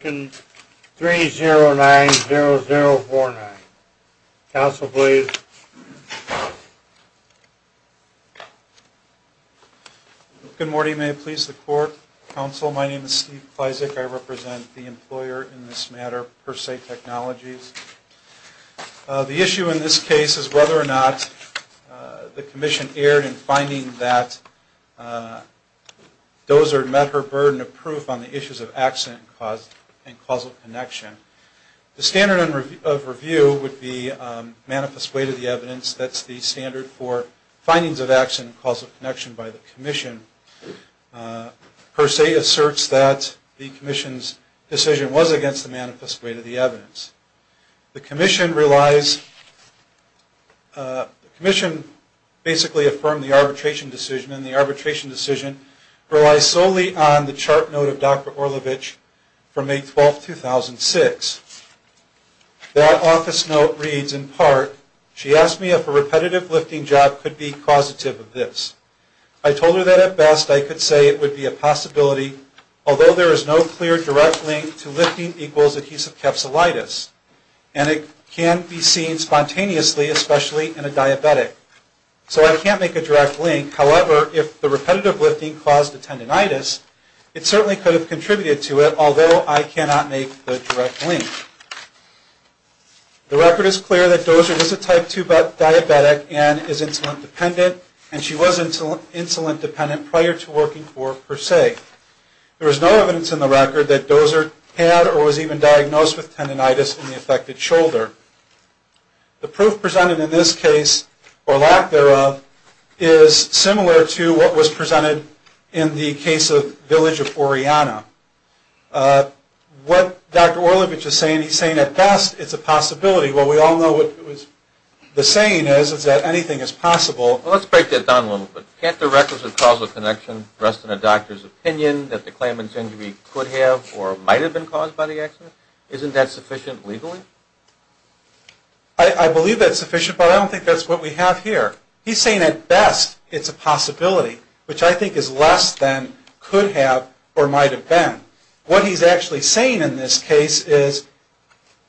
3-0-9-0-0-4-9. Council, please. Good morning. May it please the court. Council, my name is Steve Pleisic. I represent the employer in this matter, Per-Se Technologies. The issue in this case is whether or not the commission erred in finding that her burden of proof on the issues of accident and causal connection. The standard of review would be manifest weight of the evidence. That's the standard for findings of accident and causal connection by the commission. Per-Se asserts that the commission's decision was against the manifest weight of the evidence. The commission relies, the commission basically affirmed the arbitration decision, and the arbitration decision relies solely on the chart note of Dr. Orlovich from May 12, 2006. That office note reads in part, she asked me if a repetitive lifting job could be causative of this. I told her that at best I could say it would be a possibility, although there is no clear direct link to lifting equals adhesive capsulitis, and it can be seen spontaneously, especially in a diabetic. So I can't make a direct link. However, if the repetitive lifting caused the tendonitis, it certainly could have contributed to it, although I cannot make the direct link. The record is clear that Dozer is a type 2 diabetic and is insulin dependent, and she was insulin dependent prior to working for Per-Se. There is no evidence in the record that Dozer had or was even diagnosed with tendonitis in the affected shoulder. The proof presented in this case, or lack thereof, is similar to what was presented in the case of Village of Oriana. What Dr. Orlovich is saying, he's saying at best it's a possibility. Well, we all know what the saying is, is that anything is possible. Well, let's break that down a little bit. Can't the records of causal connection rest in a doctor's opinion that the claimant's caused by the accident? Isn't that sufficient legally? I believe that's sufficient, but I don't think that's what we have here. He's saying at best it's a possibility, which I think is less than could have or might have been. What he's actually saying in this case is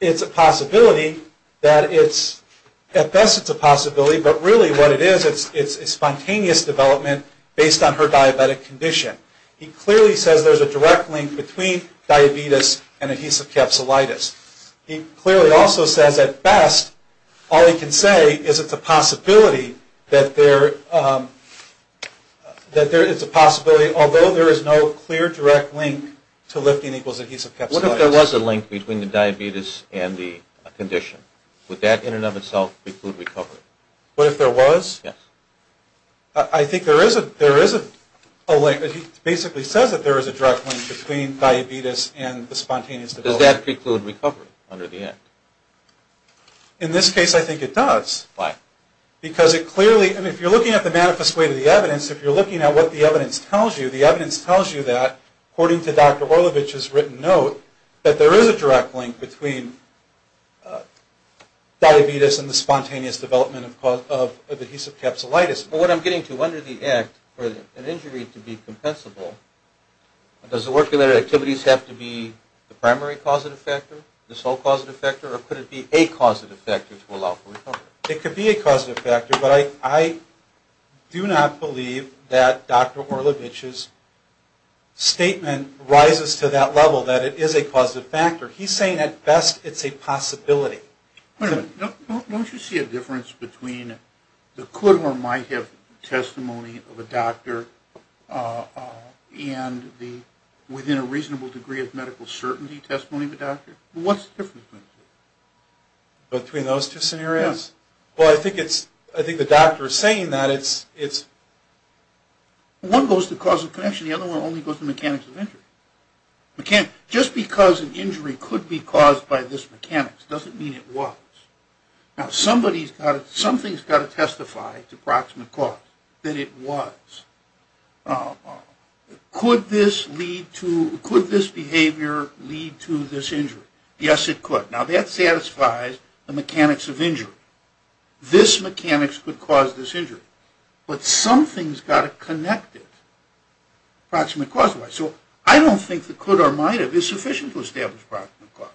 it's a possibility that it's, at best it's a possibility, but really what it is, it's a spontaneous development based on her diabetic condition. He clearly says there's a direct link between diabetes and adhesive capsulitis. He clearly also says at best all he can say is it's a possibility that there is a possibility, although there is no clear direct link to lifting equals adhesive capsulitis. What if there was a link between the diabetes and the condition? Would that in and of itself include recovery? What if there was? Yes. I think there is a link. He basically says that there is a direct link between diabetes and the spontaneous development. Does that include recovery under the act? In this case, I think it does. Why? Because it clearly, and if you're looking at the manifest way to the evidence, if you're looking at what the evidence tells you, the evidence tells you that, according to Dr. Orlovich's written note, that there is a direct link between diabetes and the spontaneous development of adhesive capsulitis. Well, what I'm getting to, under the act, for an injury to be compensable, does the work related activities have to be the primary causative factor, the sole causative factor, or could it be a causative factor to allow for recovery? It could be a causative factor, but I do not believe that Dr. Orlovich's statement rises to that level, that it is a causative factor. He's saying, at best, it's a possibility. Wait a minute. Don't you see a difference between the could or might have testimony of a doctor and within a reasonable degree of medical certainty testimony of a doctor? What's the difference? Between those two scenarios? Yes. Well, I think it's, I think the doctor is saying that it's... One goes to causative connection, the other one only goes to mechanics of injury. Just because an injury could be caused by this mechanics doesn't mean it was. Now, somebody's got to, something's got to testify to proximate cause that it was. Could this lead to, could this behavior lead to this injury? Yes, it could. Now, that satisfies the mechanics of injury. This mechanics could cause this injury. But something's got to connect it, proximate cause-wise. So, I don't think the could or might have is sufficient to establish proximate cause,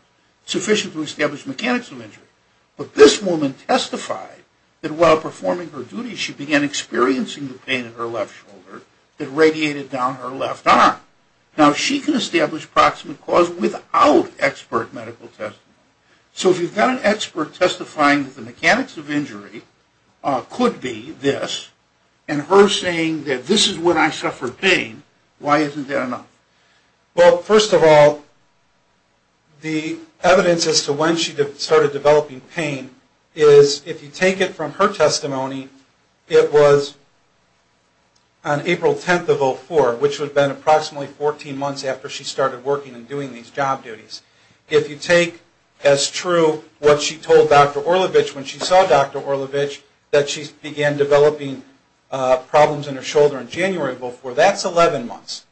sufficient to establish mechanics of injury. But this woman testified that while performing her duty, she began experiencing the pain in her left shoulder that radiated down her left arm. Now, she can establish proximate cause without expert medical testimony. So, if you've got an expert testifying that the mechanics of injury could be this, and her saying that this is when I suffered pain, why isn't that enough? Well, first of all, the evidence as to when she started developing pain is, if you take it from her testimony, it was on April 10th of 04, which would have been approximately 14 months after she started working and doing these job duties. If you take as true what she told Dr. Orlovitch when she saw Dr. Orlovitch, that she began developing problems in her shoulder in January of 04, that's 11 months.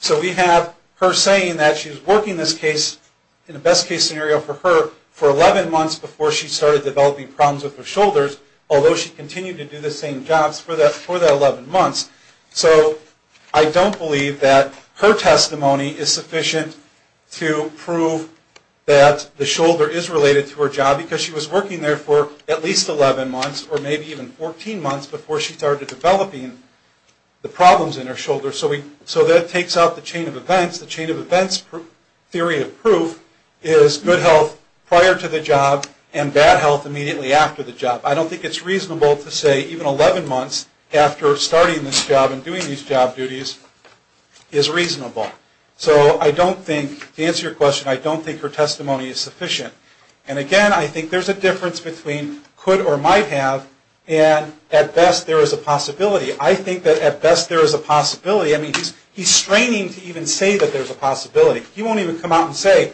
So, we have her saying that she's working this case, in the best case scenario for her, for 11 months before she started developing problems with her shoulders, although she continued to do the same jobs for that 11 months. So, I don't believe that her testimony is sufficient to prove that the shoulder is related to her job, because she was working there for at least 11 months, or maybe even 14 months, before she started developing the problems in her shoulder. So, that takes out the chain of events. The chain of events theory of proof is good health prior to the job and bad health immediately after the job. I don't think it's reasonable to say even 11 months after starting this job and doing these job duties is reasonable. So, I don't think, to answer your question, I don't think her testimony is sufficient. And again, I think there's a difference between could or might have, and at best there is a possibility. I think that at best there is a possibility. I mean, he's straining to even say that there's a possibility. He won't even come out and say,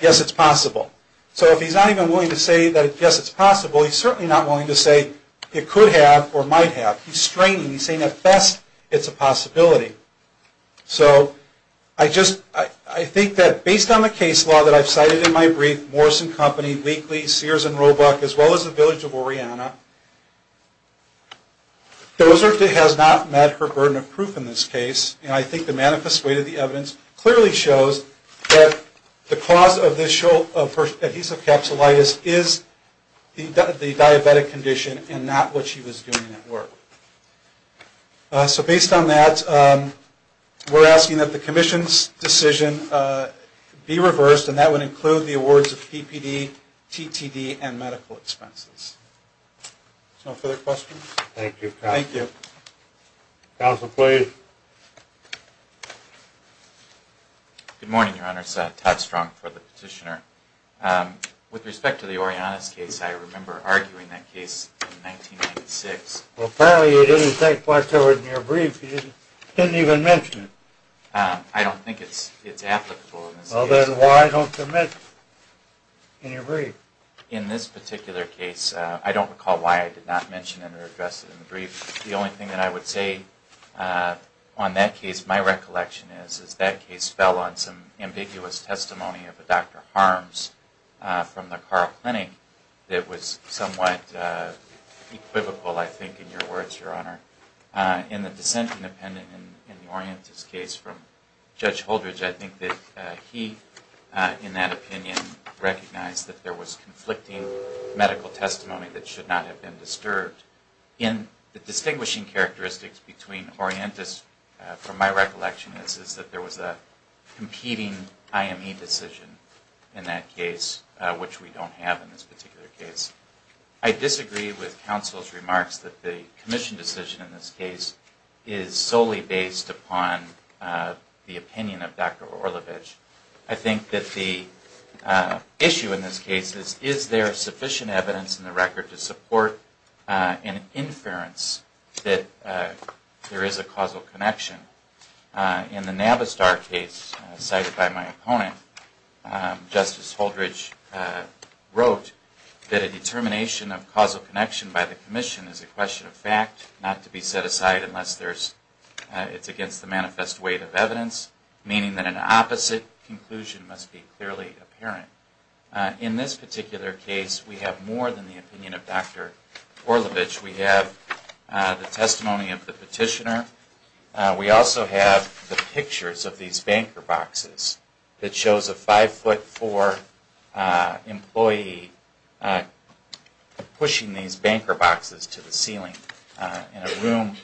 yes, it's possible. So, if he's not even willing to say that, yes, it's possible, he's certainly not willing to say it could have or might have. He's straining. He's saying, at best, it's a possibility. So, I just, I think that based on the case law that I've cited in my brief, and I think the manifest weight of the evidence clearly shows that the cause of her adhesive capsulitis is the diabetic condition and not what she was doing at work. So, based on that, we're asking that the commission's decision be reversed, and that would include the awards of PPD, TTD, and medical expenses. No further questions? Thank you, counsel. Thank you. Counsel, please. Good morning, Your Honor. It's Todd Strong for the petitioner. With respect to the Orionis case, I remember arguing that case in 1996. Well, apparently you didn't take much of it in your brief. You didn't even mention it. I don't think it's applicable in this case. Well, then why don't you mention it in your brief? In this particular case, I don't recall why I did not mention it or address it in the brief. The only thing that I would say on that case, my recollection is, is that case fell on some ambiguous testimony of a Dr. Harms from the Carl Clinic that was somewhat equivocal, I think, in your words, Your Honor. In the dissenting opinion in the Orionis case from Judge Holdridge, I think that he, in that opinion, recognized that there was conflicting medical testimony that should not have been disturbed. The distinguishing characteristics between Orionis, from my recollection, is that there was a competing IME decision in that case, which we don't have in this particular case. I disagree with counsel's remarks that the commission decision in this case is solely based upon the opinion of Dr. Orlovich. I think that the issue in this case is, is there sufficient evidence in the record to support an inference that there is a causal connection? In the Navistar case cited by my opponent, Justice Holdridge wrote that a determination of causal connection by the commission is a question of fact, not to be set aside unless it's against the manifest weight of evidence, meaning that an opposite conclusion must be clearly apparent. In this particular case, we have more than the opinion of Dr. Orlovich. We have the testimony of the petitioner. We also have the pictures of these banker boxes that shows a five-foot-four employee pushing these banker boxes to the ceiling in a room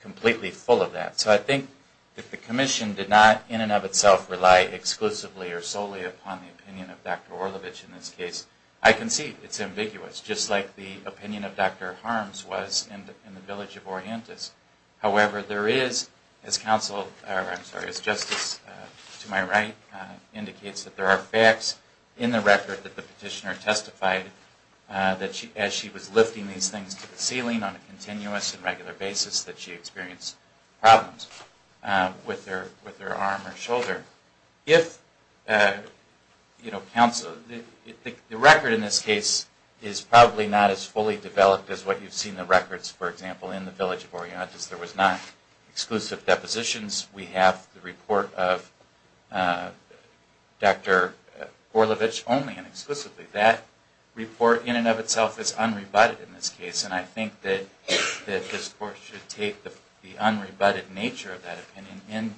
completely full of that. So I think that the commission did not, in and of itself, rely exclusively or solely upon the opinion of Dr. Orlovich in this case. I concede it's ambiguous, just like the opinion of Dr. Harms was in the village of Oriantis. However, there is, as Justice to my right indicates, that there are facts in the record that the petitioner testified that as she was lifting these things to the ceiling on a continuous and regular basis that she experienced problems with her arm or shoulder. The record in this case is probably not as fully developed as what you've seen in the records, for example, in the village of Oriantis there was not exclusive depositions. We have the report of Dr. Orlovich only and exclusively. That report in and of itself is unrebutted in this case, and I think that this Court should take the unrebutted nature of that opinion and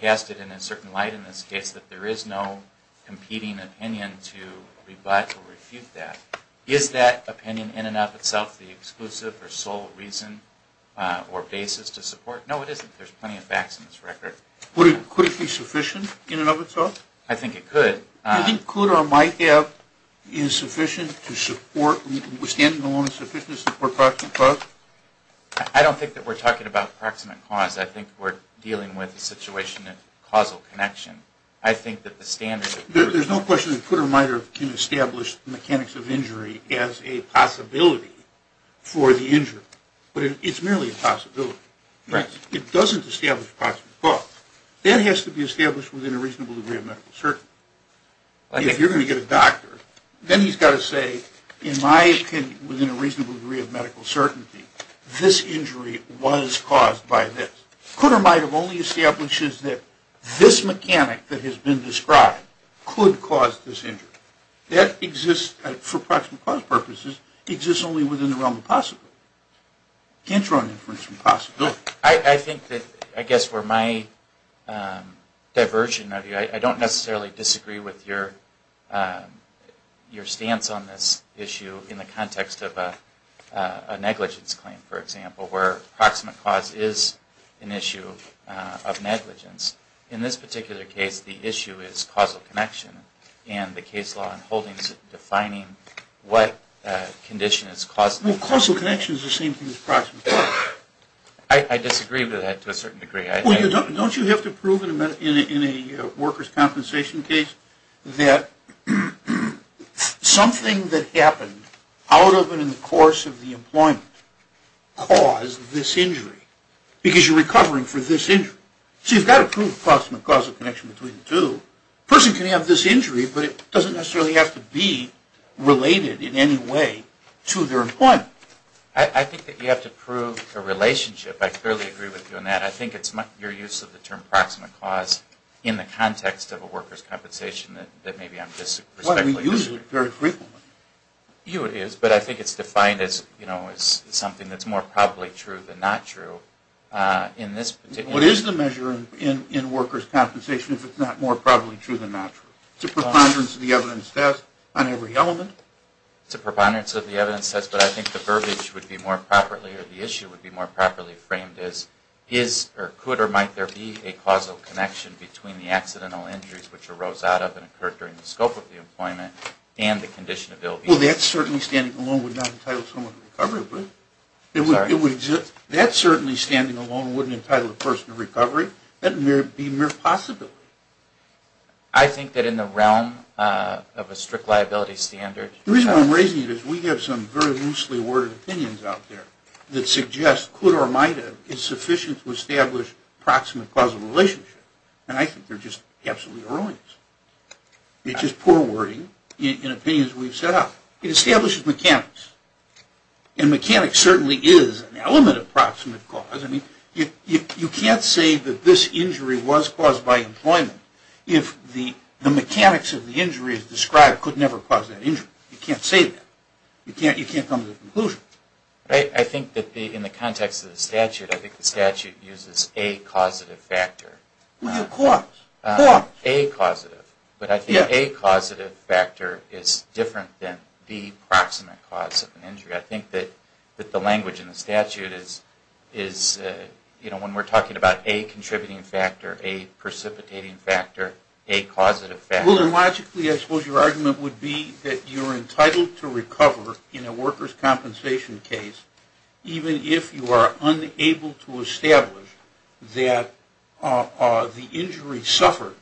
cast it in a certain light in this case, that there is no competing opinion to rebut or refute that. Is that opinion in and of itself the exclusive or sole reason or basis to support? No, it isn't. There's plenty of facts in this record. Could it be sufficient in and of itself? I think it could. Do you think could or might have is sufficient to support, standing alone is sufficient to support proximate cause? I don't think that we're talking about proximate cause. I think we're dealing with a situation of causal connection. I think that the standard... There's no question that could or might have can establish mechanics of injury as a possibility for the injured, but it's merely a possibility. It doesn't establish proximate cause. That has to be established within a reasonable degree of medical certainty. If you're going to get a doctor, then he's got to say, in my opinion, within a reasonable degree of medical certainty, this injury was caused by this. Could or might have only establishes that this mechanic that has been described could cause this injury. That exists, for proximate cause purposes, exists only within the realm of possibility. Can't draw inference from possibility. I think that, I guess, for my diversion of you, I don't necessarily disagree with your stance on this issue in the context of a negligence claim, for example, where proximate cause is an issue of negligence. In this particular case, the issue is causal connection and the case law and holdings defining what condition is causal. Well, causal connection is the same thing as proximate cause. I disagree with that to a certain degree. Don't you have to prove in a workers' compensation case that something that happened out of and in the course of the employment caused this injury? Because you're recovering for this injury. So you've got to prove the proximate causal connection between the two. A person can have this injury, but it doesn't necessarily have to be related in any way to their employment. I think that you have to prove a relationship. I clearly agree with you on that. I think it's your use of the term proximate cause in the context of a workers' compensation that maybe I'm disrespectfully using. Well, we use it very frequently. You would use it, but I think it's defined as something that's more probably true than not true. What is the measure in workers' compensation if it's not more probably true than not true? It's a preponderance of the evidence test on every element. It's a preponderance of the evidence test, but I think the verbiage would be more properly or the issue would be more properly framed as could or might there be a causal connection between the accidental injuries which arose out of and occurred during the scope of the employment and the condition of ill-being. Well, that certainly, standing alone, would not entitle someone to recovery. That certainly, standing alone, wouldn't entitle a person to recovery. That would be mere possibility. I think that in the realm of a strict liability standard. The reason I'm raising it is we have some very loosely worded opinions out there that suggest could or might have insufficient to establish proximate causal relationship, and I think they're just absolutely erroneous. It's just poor wording in opinions we've set up. It establishes mechanics, and mechanics certainly is an element of proximate cause. I mean, you can't say that this injury was caused by employment if the mechanics of the injury described could never cause that injury. You can't say that. You can't come to a conclusion. I think that in the context of the statute, I think the statute uses a causative factor. Well, of course. A causative. But I think a causative factor is different than the proximate cause of an injury. I think that the language in the statute is, you know, when we're talking about a contributing factor, a precipitating factor, a causative factor. Logically, I suppose your argument would be that you're entitled to recover in a worker's compensation case even if you are unable to establish that the injury suffered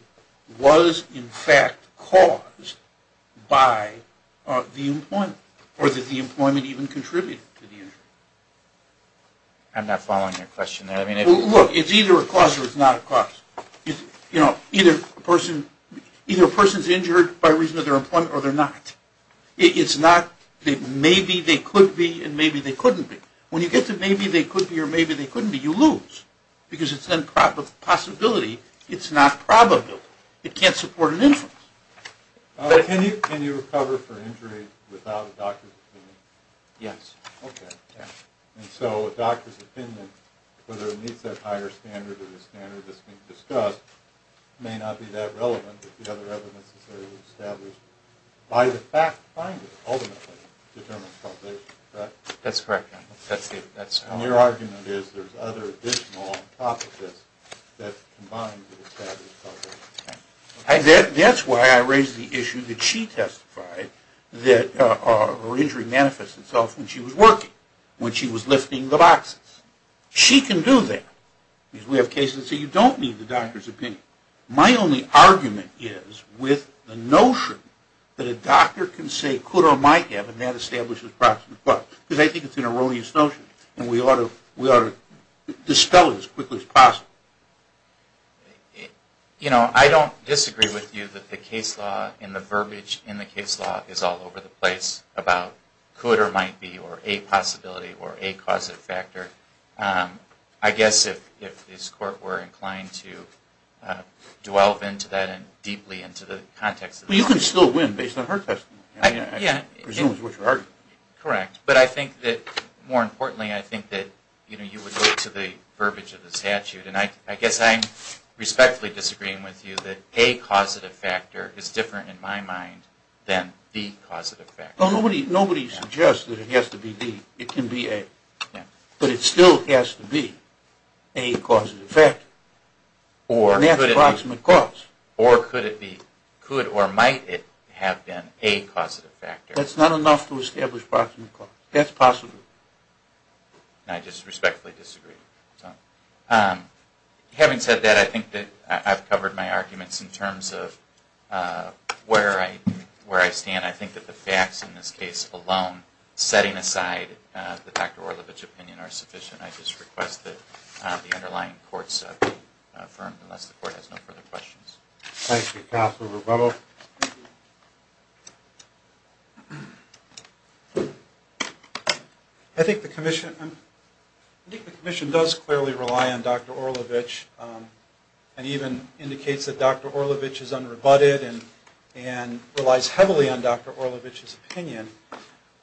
was in fact caused by the employment or that the employment even contributed to the injury. I'm not following your question there. Look, it's either a cause or it's not a cause. You know, either a person's injured by reason of their employment or they're not. It's not maybe they could be and maybe they couldn't be. When you get to maybe they could be or maybe they couldn't be, you lose because it's a possibility. It's not probable. It can't support an inference. Can you recover for injury without a doctor's opinion? Yes. Okay. And so a doctor's opinion, whether it meets that higher standard or the standard that's been discussed, may not be that relevant if the other evidence is there to establish by the fact finder ultimately determines causation, correct? That's correct. And your argument is there's other additional hypothesis that combine to establish causation. That's why I raised the issue that she testified that her injury manifests itself when she was working, when she was lifting the boxes. She can do that because we have cases that say you don't need the doctor's opinion. My only argument is with the notion that a doctor can say could or might have and that establishes proximate cause because I think it's an erroneous notion You know, I don't disagree with you that the case law and the verbiage in the case law is all over the place about could or might be or a possibility or a causative factor. I guess if this court were inclined to delve into that and deeply into the context. Well, you can still win based on her testimony. I mean, I presume it's what you're arguing. Correct. But I think that, more importantly, I think that, you know, you would look to the verbiage of the statute and I guess I'm respectfully disagreeing with you that a causative factor is different in my mind than the causative factor. Nobody suggests that it has to be B. It can be A. But it still has to be a causative factor. Or could it be. And that's proximate cause. Or could it be, could or might it have been a causative factor. That's not enough to establish proximate cause. That's possible. And I just respectfully disagree. Having said that, I think that I've covered my arguments in terms of where I stand. I think that the facts in this case alone, setting aside the Dr. Orlovich opinion, are sufficient. I just request that the underlying courts be affirmed unless the court has no further questions. Thank you, Counselor Rubello. I think the Commission, I think the Commission does clearly rely on Dr. Orlovich and even indicates that Dr. Orlovich is unrebutted and relies heavily on Dr. Orlovich's opinion.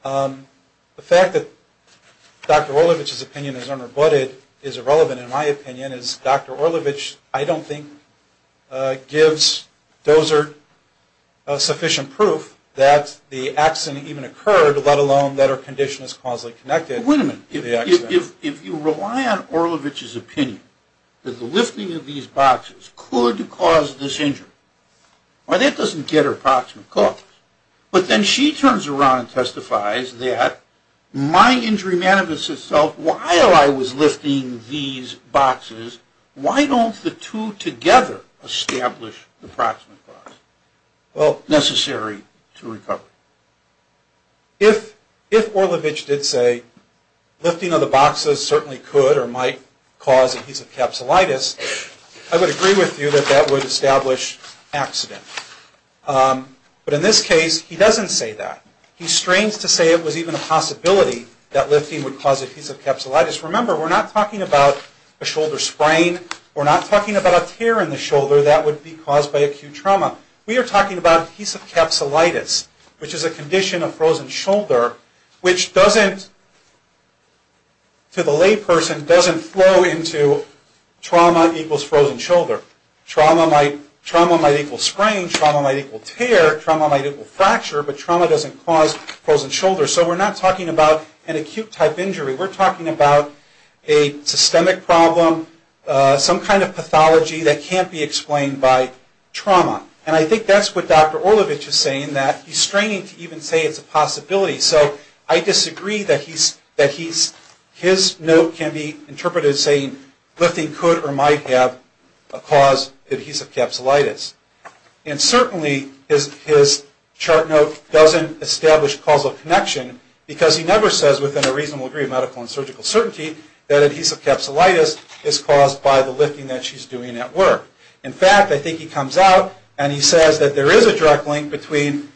The fact that Dr. Orlovich's opinion is unrebutted is irrelevant in my opinion as Dr. Orlovich, I don't think, gives Dozer sufficient proof that the accident even occurred, let alone that her condition is causally connected to the accident. Wait a minute. If you rely on Orlovich's opinion that the lifting of these boxes could cause this injury, well, that doesn't get her proximate cause. But then she turns around and testifies that, my injury manifest itself while I was lifting these boxes, why don't the two together establish the proximate cause? Well, necessary to recover. If Orlovich did say lifting of the boxes certainly could or might cause adhesive capsulitis, I would agree with you that that would establish accident. But in this case, he doesn't say that. He strains to say it was even a possibility that lifting would cause adhesive capsulitis. Remember, we're not talking about a shoulder sprain. We're not talking about a tear in the shoulder that would be caused by acute trauma. We are talking about adhesive capsulitis, which is a condition of frozen shoulder, which doesn't, to the layperson, doesn't flow into trauma equals frozen shoulder. Trauma might equal sprain. Trauma might equal tear. Trauma might equal fracture. But trauma doesn't cause frozen shoulder. So we're not talking about an acute type injury. We're talking about a systemic problem, some kind of pathology that can't be explained by trauma. And I think that's what Dr. Orlovich is saying, that he's straining to even say it's a possibility. So I disagree that his note can be interpreted as saying lifting could or might have a cause of adhesive capsulitis. And certainly his chart note doesn't establish causal connection, because he never says within a reasonable degree of medical and surgical certainty that adhesive capsulitis is caused by the lifting that she's doing at work. In fact, I think he comes out and he says that there is a direct link between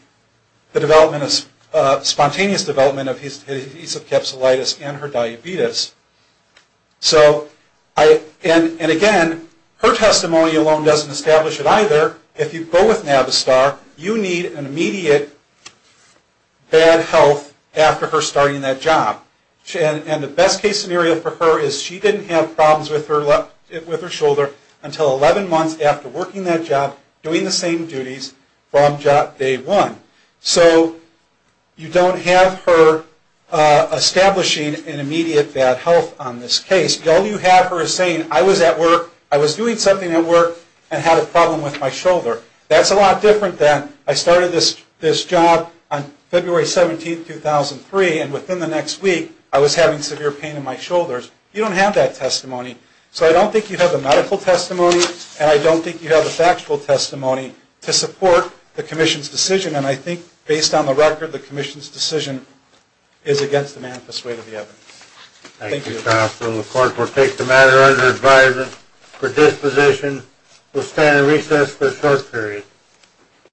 the spontaneous development of adhesive capsulitis and her diabetes. And again, her testimony alone doesn't establish it either. If you go with Navistar, you need an immediate bad health after her starting that job. And the best case scenario for her is she didn't have problems with her shoulder until 11 months after working that job, doing the same duties from day one. So you don't have her establishing an immediate bad health on this case. All you have her is saying, I was at work, I was doing something at work, and had a problem with my shoulder. That's a lot different than I started this job on February 17, 2003, and within the next week I was having severe pain in my shoulders. You don't have that testimony. So I don't think you have the medical testimony, and I don't think you have the factual testimony to support the Commission's decision. And I think, based on the record, the Commission's decision is against the manifest weight of the evidence. Thank you. Thank you, Counsel. The Court will take the matter under advisement for disposition. We'll stand in recess for a short period.